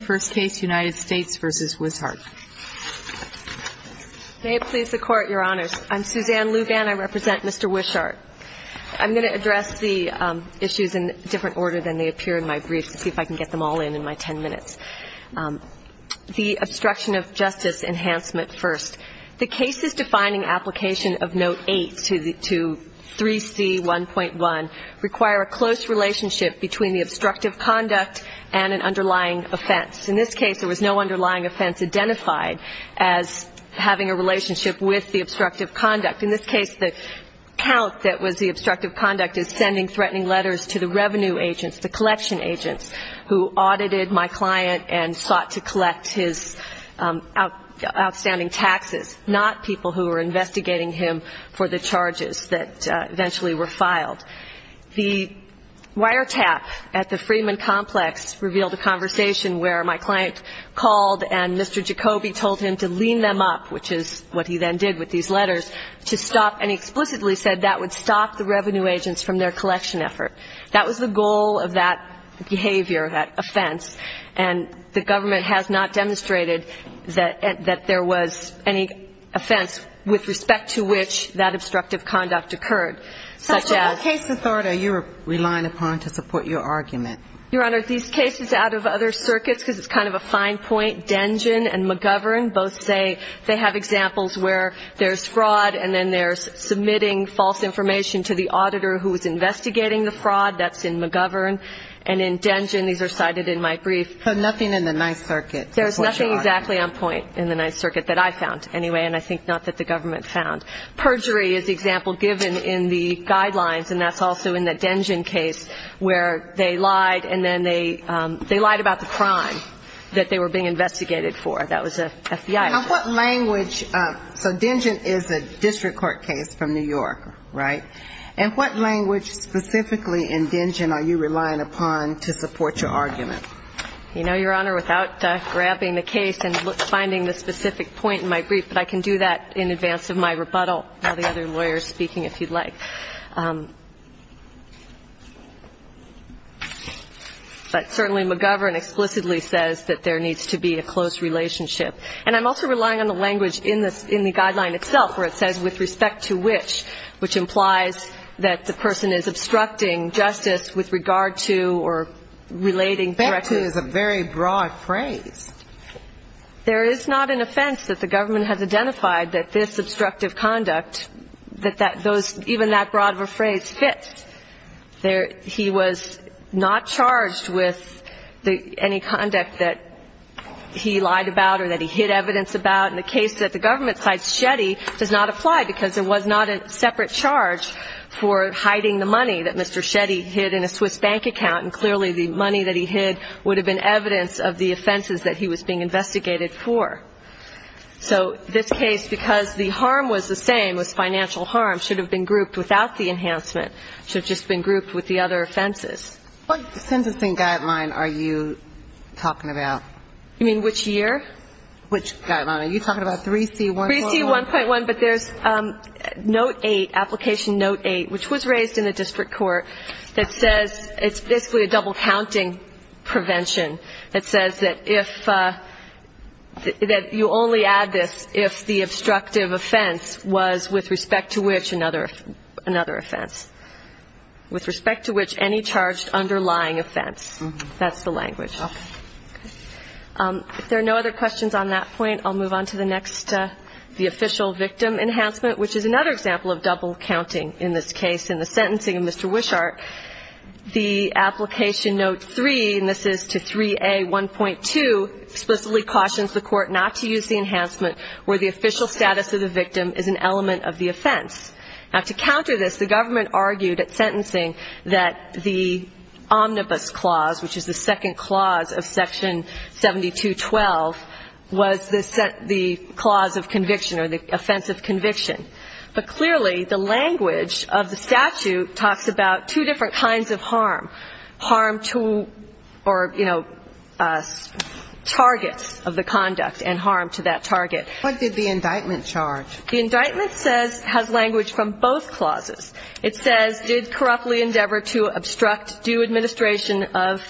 first case united states versus Wishart. May it please the Court, Your Honor. I am Susanne Louvan, I represent Mr. Wishart. I'm going to address the issues in different order than they appear to me in my brief to see if I can get them all in my 10 minutes, the obstruction of Justice enhancement first. The cases defining application of note eight to 3C1.1 require a close relationship between the plaintiff and the plaintiff's client. In this case, there was no underlying offense identified as having a relationship with the obstructive conduct. In this case, the count that was the obstructive conduct is sending threatening letters to the revenue agents, the collection agents, who audited my client and sought to collect his outstanding taxes, not people who were investigating him for the charges that eventually were conversation where my client's lawyer, who is a lawyer who audited my client, called and Mr. Jacoby told him to lean them up, which is what he then did with these letters, to stop and explicitly said that would stop the revenue agents from their collection effort. That was the goal of that behavior, that offense, and the government has not demonstrated that there was any offense with respect to which that obstructive conduct occurred. Such as? What case authority are you relying upon to support your argument? Your Honor, these cases out of other circuits, because it's kind of a fine point, Dengen and McGovern both say they have examples where there's fraud and then there's submitting false information to the auditor who is investigating the fraud. That's in McGovern. And in Dengen, these are cited in my brief. But nothing in the Ninth Circuit supports your argument? There's nothing exactly on point in the Ninth Circuit that I found, anyway, and I think not that the government found. Perjury is the example given in the guidelines, and that's also in the Dengen case, where they lied, and then they lied about the crime. And, you know, there's a lot of information that they were being investigated for. That was FBI. And what language ‑‑ so Dengen is a district court case from New York, right? And what language specifically in Dengen are you relying upon to support your argument? You know, Your Honor, without grabbing the case and finding the specific point in my brief, but I can do that in advance of my rebuttal while the other lawyer is speaking, if you'd like. But certainly, McGovern explicitly said that there was no fraud involved. And that's a very broad phrase. So, as I said, the government says that there needs to be a close relationship. And I'm also relying on the language in the guideline itself where it says, with respect to which, which implies that the person is obstructing justice with regard to or relating directly. Respect to is a very broad phrase. There is not an offense that the government has identified that this obstructive conduct, that those ‑‑ even that broad of a phrase, fits. He was not charged with any conduct that was not appropriate for the defendant. He was not charged with anything that he lied about or that he hid evidence about. And the case that the government cites Shetty does not apply because it was not a separate charge for hiding the money that Mr. Shetty hid in a Swiss bank account. And clearly, the money that he hid would have been evidence of the offenses that he was being investigated for. So, this case, because the harm was the same, was financial harm, should have been grouped without the enhancement. It should have just been grouped with the other offenses. What sentencing guideline are you talking about? You mean which year? Which guideline? Are you talking about 3C1.1? 3C1.1. But there's Note 8, Application Note 8, which was raised in the district court, that says it's basically a double-counting prevention. It says that if ‑‑ that you only add this if the obstructive offense was with respect to which another offense. With respect to which any charged underlying offense. That's the language. Okay. If there are no other questions on that point, I'll move on to the next, the official victim enhancement, which is another example of double-counting in this case. In the sentencing of Mr. Wishart, the application Note 3, and this is to 3A1.2, explicitly cautions the court not to use the enhancement where the official status of the victim is an element of the offense. Now, to counter this, the government argued at sentencing that the omnibus clause of conviction or the offense of conviction. But clearly, the language of the statute talks about two different kinds of harm. Harm to ‑‑ or, you know, targets of the conduct and harm to that target. What did the indictment charge? The indictment says ‑‑ has language from both clauses. It says, did corruptly endeavor to obstruct due administration of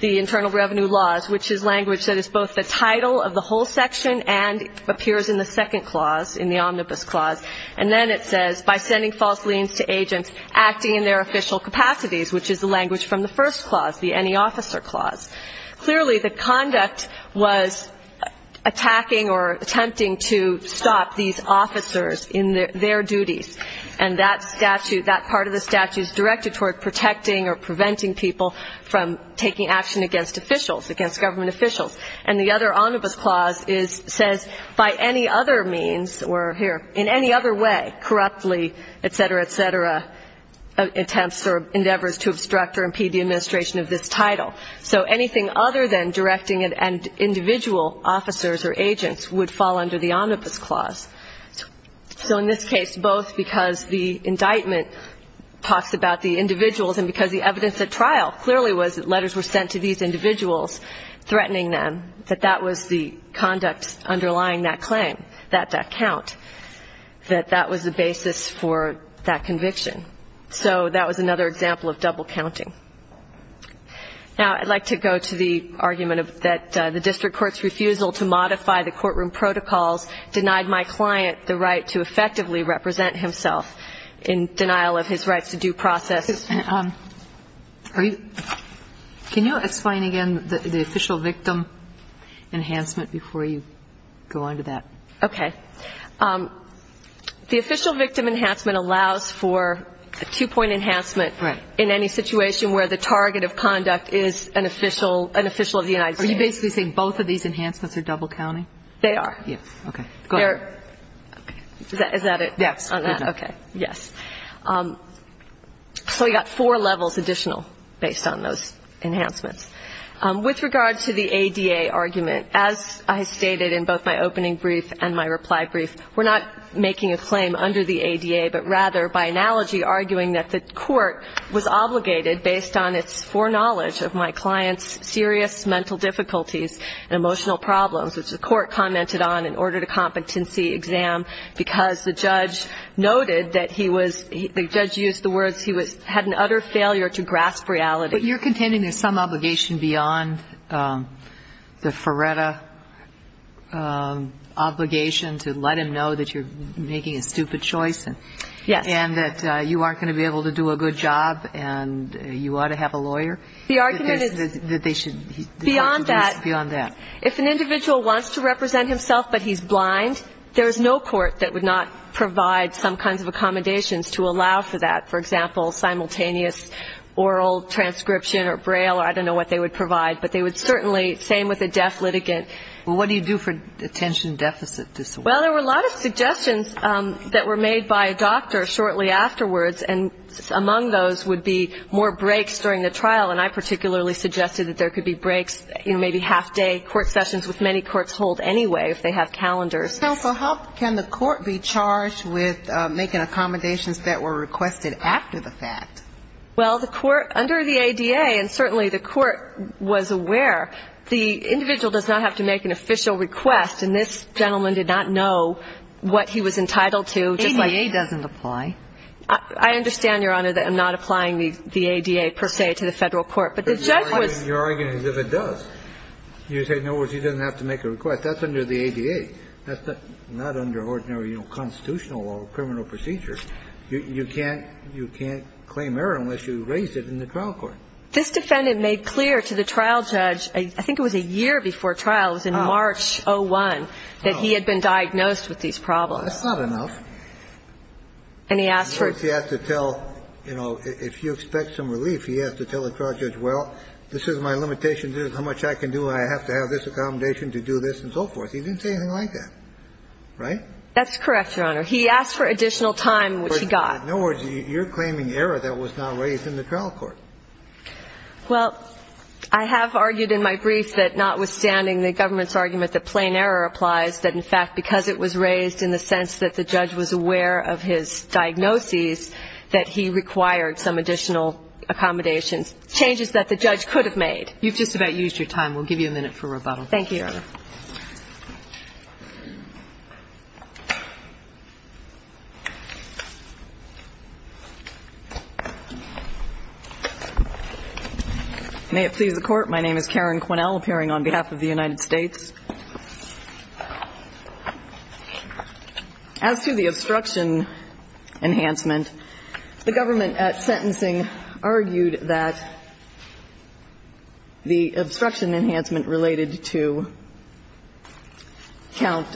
the internal revenue laws of the state. And the second clause, which is language that is both the title of the whole section and appears in the second clause, in the omnibus clause. And then it says, by sending false liens to agents acting in their official capacities, which is the language from the first clause, the any officer clause. Clearly, the conduct was attacking or attempting to stop these officers in their duties. And that statute, that part of the statute is directed toward protecting or preventing people from taking action against officials, against corrupt officials. And the other omnibus clause says, by any other means, or here, in any other way, corruptly, et cetera, et cetera, attempts or endeavors to obstruct or impede the administration of this title. So anything other than directing individual officers or agents would fall under the omnibus clause. So in this case, both because the indictment talks about the individuals and because the evidence at trial clearly was that letters were sent to these individuals. And that was the basis for that conviction. So that was another example of double counting. Now, I'd like to go to the argument that the district court's refusal to modify the courtroom protocols denied my client the right to effectively represent himself in denial of his rights to due process. Can you explain again the official victim enhancement before you go on to that? Okay. The official victim enhancement allows for a two-point enhancement in any situation where the target of conduct is an official of the United States. Are you basically saying both of these enhancements are double counting? They are. Yes. Okay. Go ahead. Is that it? Yes. Good enough. Okay. Yes. So we got four levels additional based on those enhancements. With regard to the ADA argument, as I stated in both my opening brief and my reply brief, we're not making a claim under the ADA, but rather by analogy, arguing that the court was obligated, based on its foreknowledge of my client's serious mental difficulties and emotional problems, which the court commented on, in order to competency exam, because the judge noted that he was, in his opinion, the judge used the words he had an utter failure to grasp reality. But you're contending there's some obligation beyond the Feretta obligation to let him know that you're making a stupid choice and that you aren't going to be able to do a good job and you ought to have a lawyer? The argument is beyond that. If an individual wants to represent himself but he's blind, there's no court that would not provide some kinds of accommodations to allow for that. For example, simultaneous oral transcription or braille, I don't know what they would provide, but they would certainly, same with a deaf litigant. Well, what do you do for attention deficit disorder? Well, there were a lot of suggestions that were made by a doctor shortly afterwards, and among those would be more breaks during the trial, and I particularly suggested that there could be breaks, you know, maybe half-day court sessions, which many courts hold anyway if they have calendars. But, counsel, how can the court be charged with making accommodations that were requested after the fact? Well, the court, under the ADA, and certainly the court was aware, the individual does not have to make an official request, and this gentleman did not know what he was entitled to. ADA doesn't apply. I understand, Your Honor, that I'm not applying the ADA, per se, to the Federal Court, but the judge was. Your argument is if it does. You say, in other words, he doesn't have to make a request. That's under the ADA. That's not under ordinary, you know, constitutional or criminal procedures. You can't claim error unless you raise it in the trial court. This defendant made clear to the trial judge, I think it was a year before trial, it was in March 01, that he had been diagnosed with these problems. That's not enough. And he asked for it. In fact, he asked to tell, you know, if you expect some relief, he asked to tell the trial judge, well, this is my limitation, this is how much I can do, and I have to have this accommodation to do this and so forth. He didn't say anything like that. Right? That's correct, Your Honor. He asked for additional time, which he got. In other words, you're claiming error that was not raised in the trial court. Well, I have argued in my brief that notwithstanding the government's argument that plain error applies, that in fact, because it was raised in the sense that the judge was aware of his diagnoses, that he required some additional accommodations, changes that the judge could have made. You've just about used your time. We'll give you a minute for rebuttal. Thank you, Your Honor. May it please the Court. My name is Karen Quinnell, appearing on behalf of the United States. As to the obstruction enhancement, the government at sentencing argued that the obstruction enhancement related to count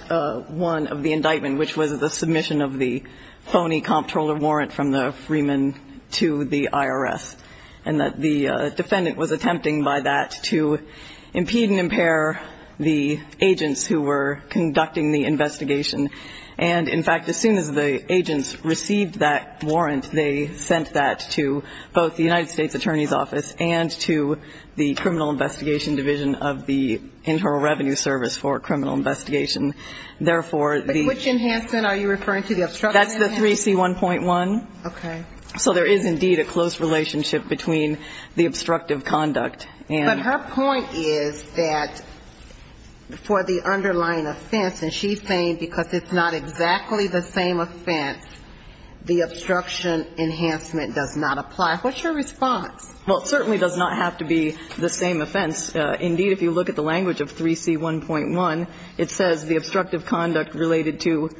one of the indictment, which was the submission of the phony comptroller warrant from the Freeman to the IRS, and that the defendant was attempting by that to impede and impair the agents who were conducting the investigation. And in fact, as soon as the agents received that warrant, they sent that to both the Internal Revenue Service for criminal investigation. Therefore, the ---- But which enhancement are you referring to, the obstruction enhancement? That's the 3C1.1. Okay. So there is indeed a close relationship between the obstructive conduct and ---- But her point is that for the underlying offense, and she's saying because it's not exactly the same offense, the obstruction enhancement does not apply. What's your response? Well, it certainly does not have to be the same offense. Indeed, if you look at the language of 3C1.1, it says the obstructive conduct related to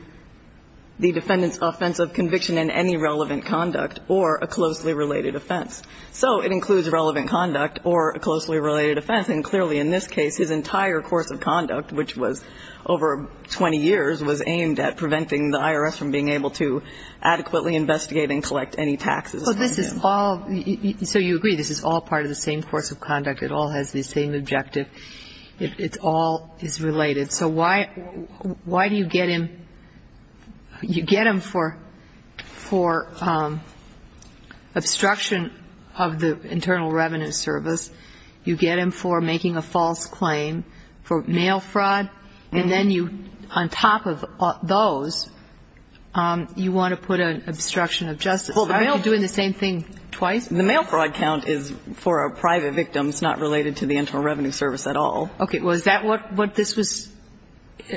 the defendant's offense of conviction in any relevant conduct or a closely related offense. So it includes relevant conduct or a closely related offense. And clearly in this case, his entire course of conduct, which was over 20 years, was aimed at preventing the IRS from being able to adequately investigate and collect any taxes. So this is all ---- So you agree this is all part of the same course of conduct. It all has the same objective. It all is related. So why do you get him ---- you get him for obstruction of the Internal Revenue Service, you get him for making a false claim for mail fraud, and then you, on top of those, you want to put an obstruction of justice. Aren't you doing the same thing twice? The mail fraud count is for a private victim. It's not related to the Internal Revenue Service at all. Okay. Well, is that what this was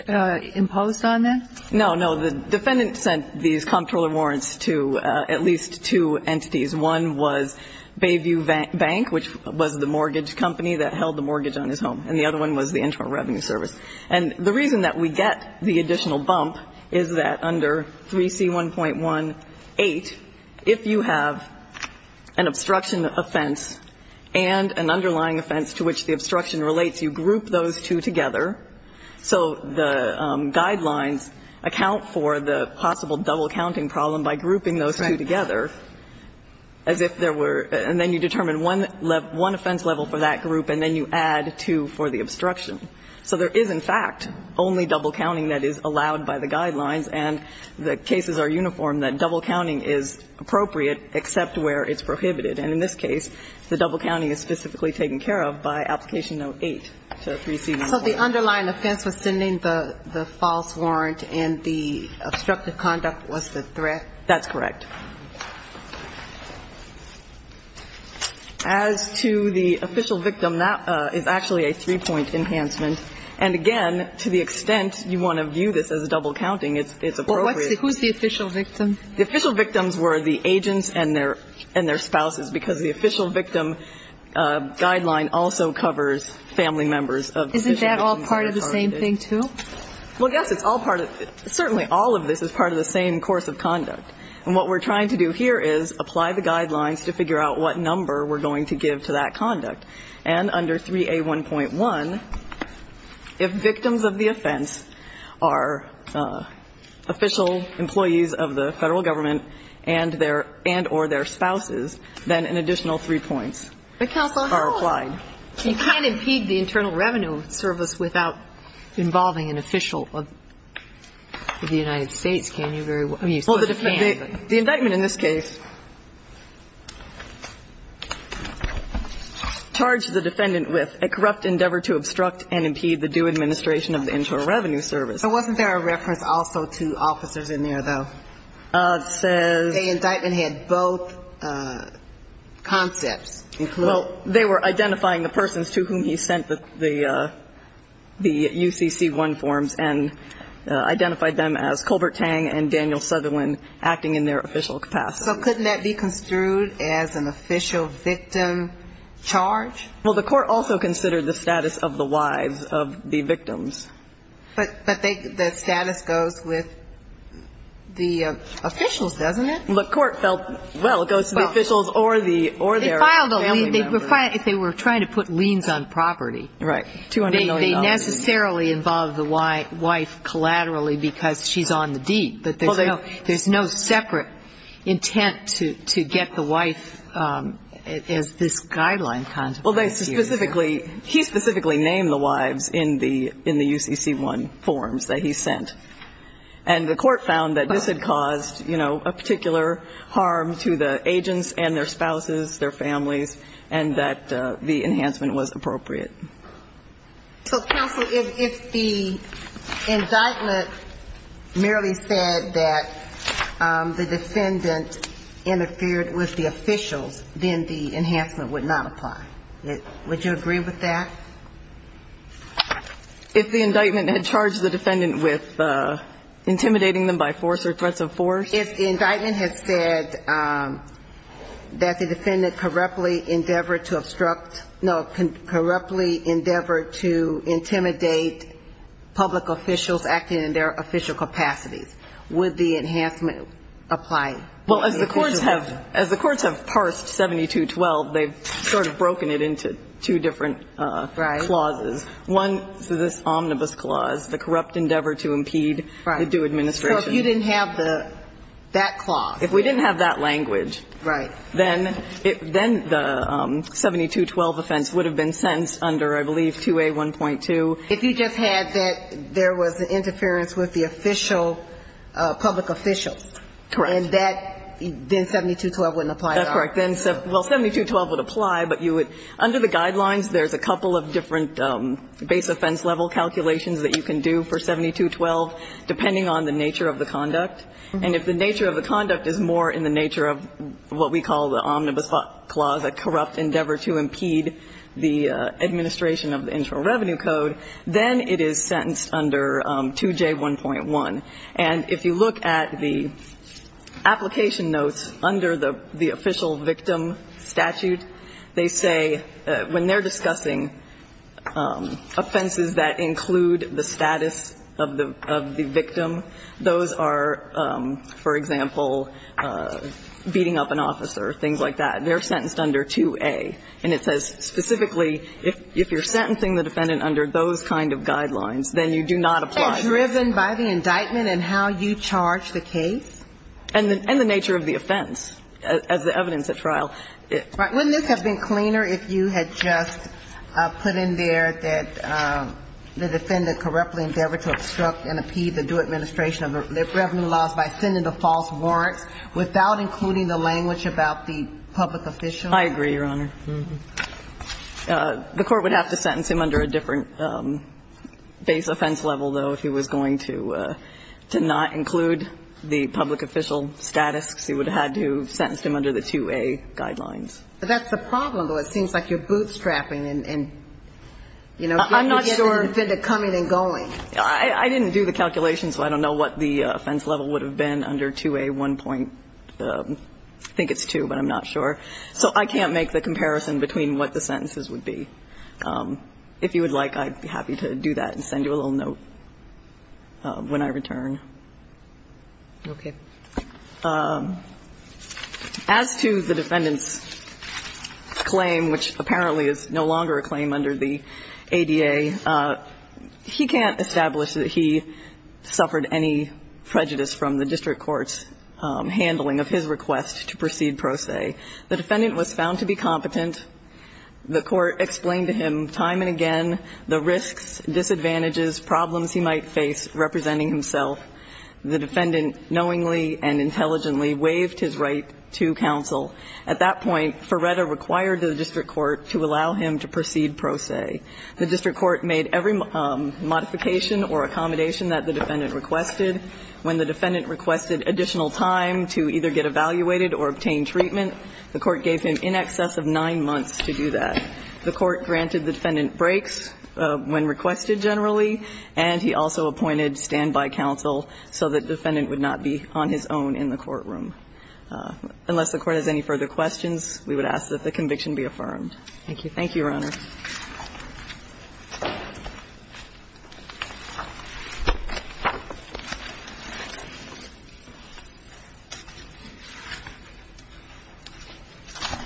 imposed on then? No, no. The defendant sent these comptroller warrants to at least two entities. One was Bayview Bank, which was the mortgage company that held the mortgage on his And the other one was the Internal Revenue Service. And the reason that we get the additional bump is that under 3C1.18, if you have an obstruction offense and an underlying offense to which the obstruction relates, you group those two together. So the guidelines account for the possible double-counting problem by grouping those two together as if there were ---- and then you determine one offense level for that group, and then you add two for the obstruction. So there is, in fact, only double-counting that is allowed by the guidelines, and the cases are uniform that double-counting is appropriate except where it's prohibited. And in this case, the double-counting is specifically taken care of by Application Note 8 to 3C1.18. So the underlying offense was sending the false warrant and the obstructive conduct was the threat? That's correct. As to the official victim, that is actually a three-point enhancement. And, again, to the extent you want to view this as double-counting, it's appropriate. Well, what's the ---- who's the official victim? The official victims were the agents and their spouses, because the official victim guideline also covers family members of the official victims. Isn't that all part of the same thing, too? Well, yes, it's all part of the ---- certainly all of this is part of the same course of conduct. And what we're trying to do here is apply the guidelines to figure out what number we're going to give to that conduct. And under 3A1.1, if victims of the offense are official employees of the Federal Government and their ---- and or their spouses, then an additional three points are applied. But, Counsel, you can't impede the Internal Revenue Service without involving an official of the United States, can you? Well, the indictment in this case charged the defendant with a corrupt endeavor to obstruct and impede the due administration of the Internal Revenue Service. Wasn't there a reference also to officers in there, though? It says ---- The indictment had both concepts. Well, they were identifying the persons to whom he sent the UCC-1 forms and identified them as Colbert Tang and Daniel Sutherland acting in their official capacity. So couldn't that be construed as an official victim charge? Well, the court also considered the status of the wives of the victims. But they ---- the status goes with the officials, doesn't it? The court felt, well, it goes to the officials or the ---- or their family members. They filed a lien. They were trying to put liens on property. Right. $200 million. They necessarily involved the wife collaterally because she's on the deed. But there's no separate intent to get the wife as this guideline ---- Well, they specifically ---- he specifically named the wives in the UCC-1 forms that he sent. And the court found that this had caused, you know, a particular harm to the agents and their spouses, their families, and that the enhancement was appropriate. So, counsel, if the indictment merely said that the defendant interfered with the officials, then the enhancement would not apply. Would you agree with that? If the indictment had charged the defendant with intimidating them by force or threats of force? If the indictment had said that the defendant corruptly endeavored to obstruct ---- no, corruptly endeavored to intimidate public officials acting in their official capacities, would the enhancement apply? Well, as the courts have ---- as the courts have parsed 7212, they've sort of broken it into two different clauses. Right. One is this omnibus clause, the corrupt endeavor to impede the due administration. Right. So if you didn't have the ---- that clause. If we didn't have that language. Right. Then it ---- then the 7212 offense would have been sentenced under, I believe, 2A1.2. If you just had that there was an interference with the official, public official. Correct. And that, then 7212 wouldn't apply at all. That's correct. Then, well, 7212 would apply, but you would ---- under the guidelines, there's a couple of different base offense level calculations that you can do for 7212, depending on the nature of the conduct. And if the nature of the conduct is more in the nature of what we call the omnibus clause, a corrupt endeavor to impede the administration of the Internal Revenue Code, then it is sentenced under 2J1.1. And if you look at the application notes under the official victim statute, they say when they're discussing offenses that include the status of the victim, those are, for example, beating up an officer, things like that. They're sentenced under 2A. And it says specifically if you're sentencing the defendant under those kind of guidelines, then you do not apply. Isn't that driven by the indictment and how you charge the case? And the nature of the offense as the evidence at trial. Right. Wouldn't this have been cleaner if you had just put in there that the defendant corruptly endeavored to obstruct and impede the due administration of the revenue laws by sending the false warrants without including the language about the public official? I agree, Your Honor. The Court would have to sentence him under a different base offense level, though, if he was going to not include the public official status, because he would have had to have sentenced him under the 2A guidelines. But that's the problem, though. It seems like you're bootstrapping and, you know, getting the defendant coming and going. I didn't do the calculations, so I don't know what the offense level would have been under 2A1. I think it's 2, but I'm not sure. So I can't make the comparison between what the sentences would be. If you would like, I'd be happy to do that and send you a little note when I return. Okay. As to the defendant's claim, which apparently is no longer a claim under the ADA, he can't establish that he suffered any prejudice from the district court's handling of his request to proceed pro se. The defendant was found to be competent. The Court explained to him time and again the risks, disadvantages, problems he might face representing himself. The defendant knowingly and intelligently waived his right to counsel. At that point, Ferretta required the district court to allow him to proceed pro se. The district court made every modification or accommodation that the defendant requested. When the defendant requested additional time to either get evaluated or obtain treatment, the court gave him in excess of nine months to do that. The court granted the defendant breaks when requested generally, and he also appointed standby counsel so that defendant would not be on his own in the courtroom. Unless the Court has any further questions, we would ask that the conviction be affirmed. Thank you. Thank you, Your Honor.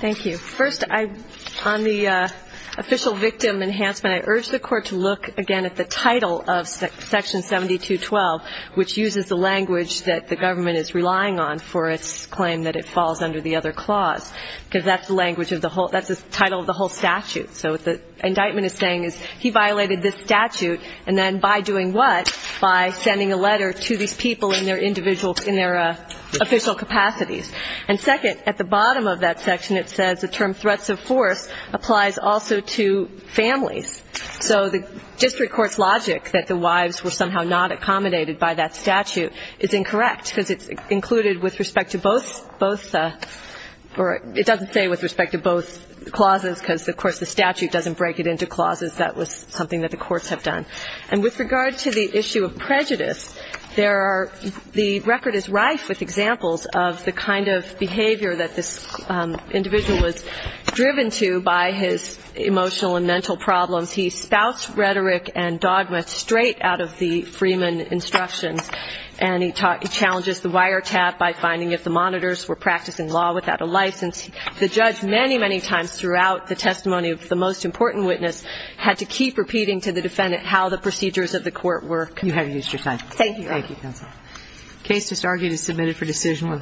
Thank you. First, on the official victim enhancement, I urge the Court to look again at the title of Section 7212, which uses the language that the government is relying on for its claim that it falls under the other clause, because that's the language of the whole ñ that's the title of the whole statute. So what the indictment is saying is he violated this statute, and then by doing what? By sending a letter to these people in their individual ñ in their official capacities. And second, at the bottom of that section, it says the term ìthreats of forceî applies also to families. So the district court's logic that the wives were somehow not accommodated by that statute is incorrect, because it's included with respect to both ñ both ñ or it doesn't say with respect to both clauses, because, of course, the statute doesn't break it into clauses. That was something that the courts have done. And with regard to the issue of prejudice, there are ñ the record is rife with examples of the kind of behavior that this individual was driven to by his emotional and mental problems. He spouts rhetoric and dogma straight out of the Freeman instructions, and he challenges the wiretap by finding if the monitors were practicing law without a license. The judge many, many times throughout the testimony of the most important witness had to keep repeating to the defendant how the procedures of the court were ñ You have used your time. Thank you. Thank you, counsel. The case just argued is submitted for decision.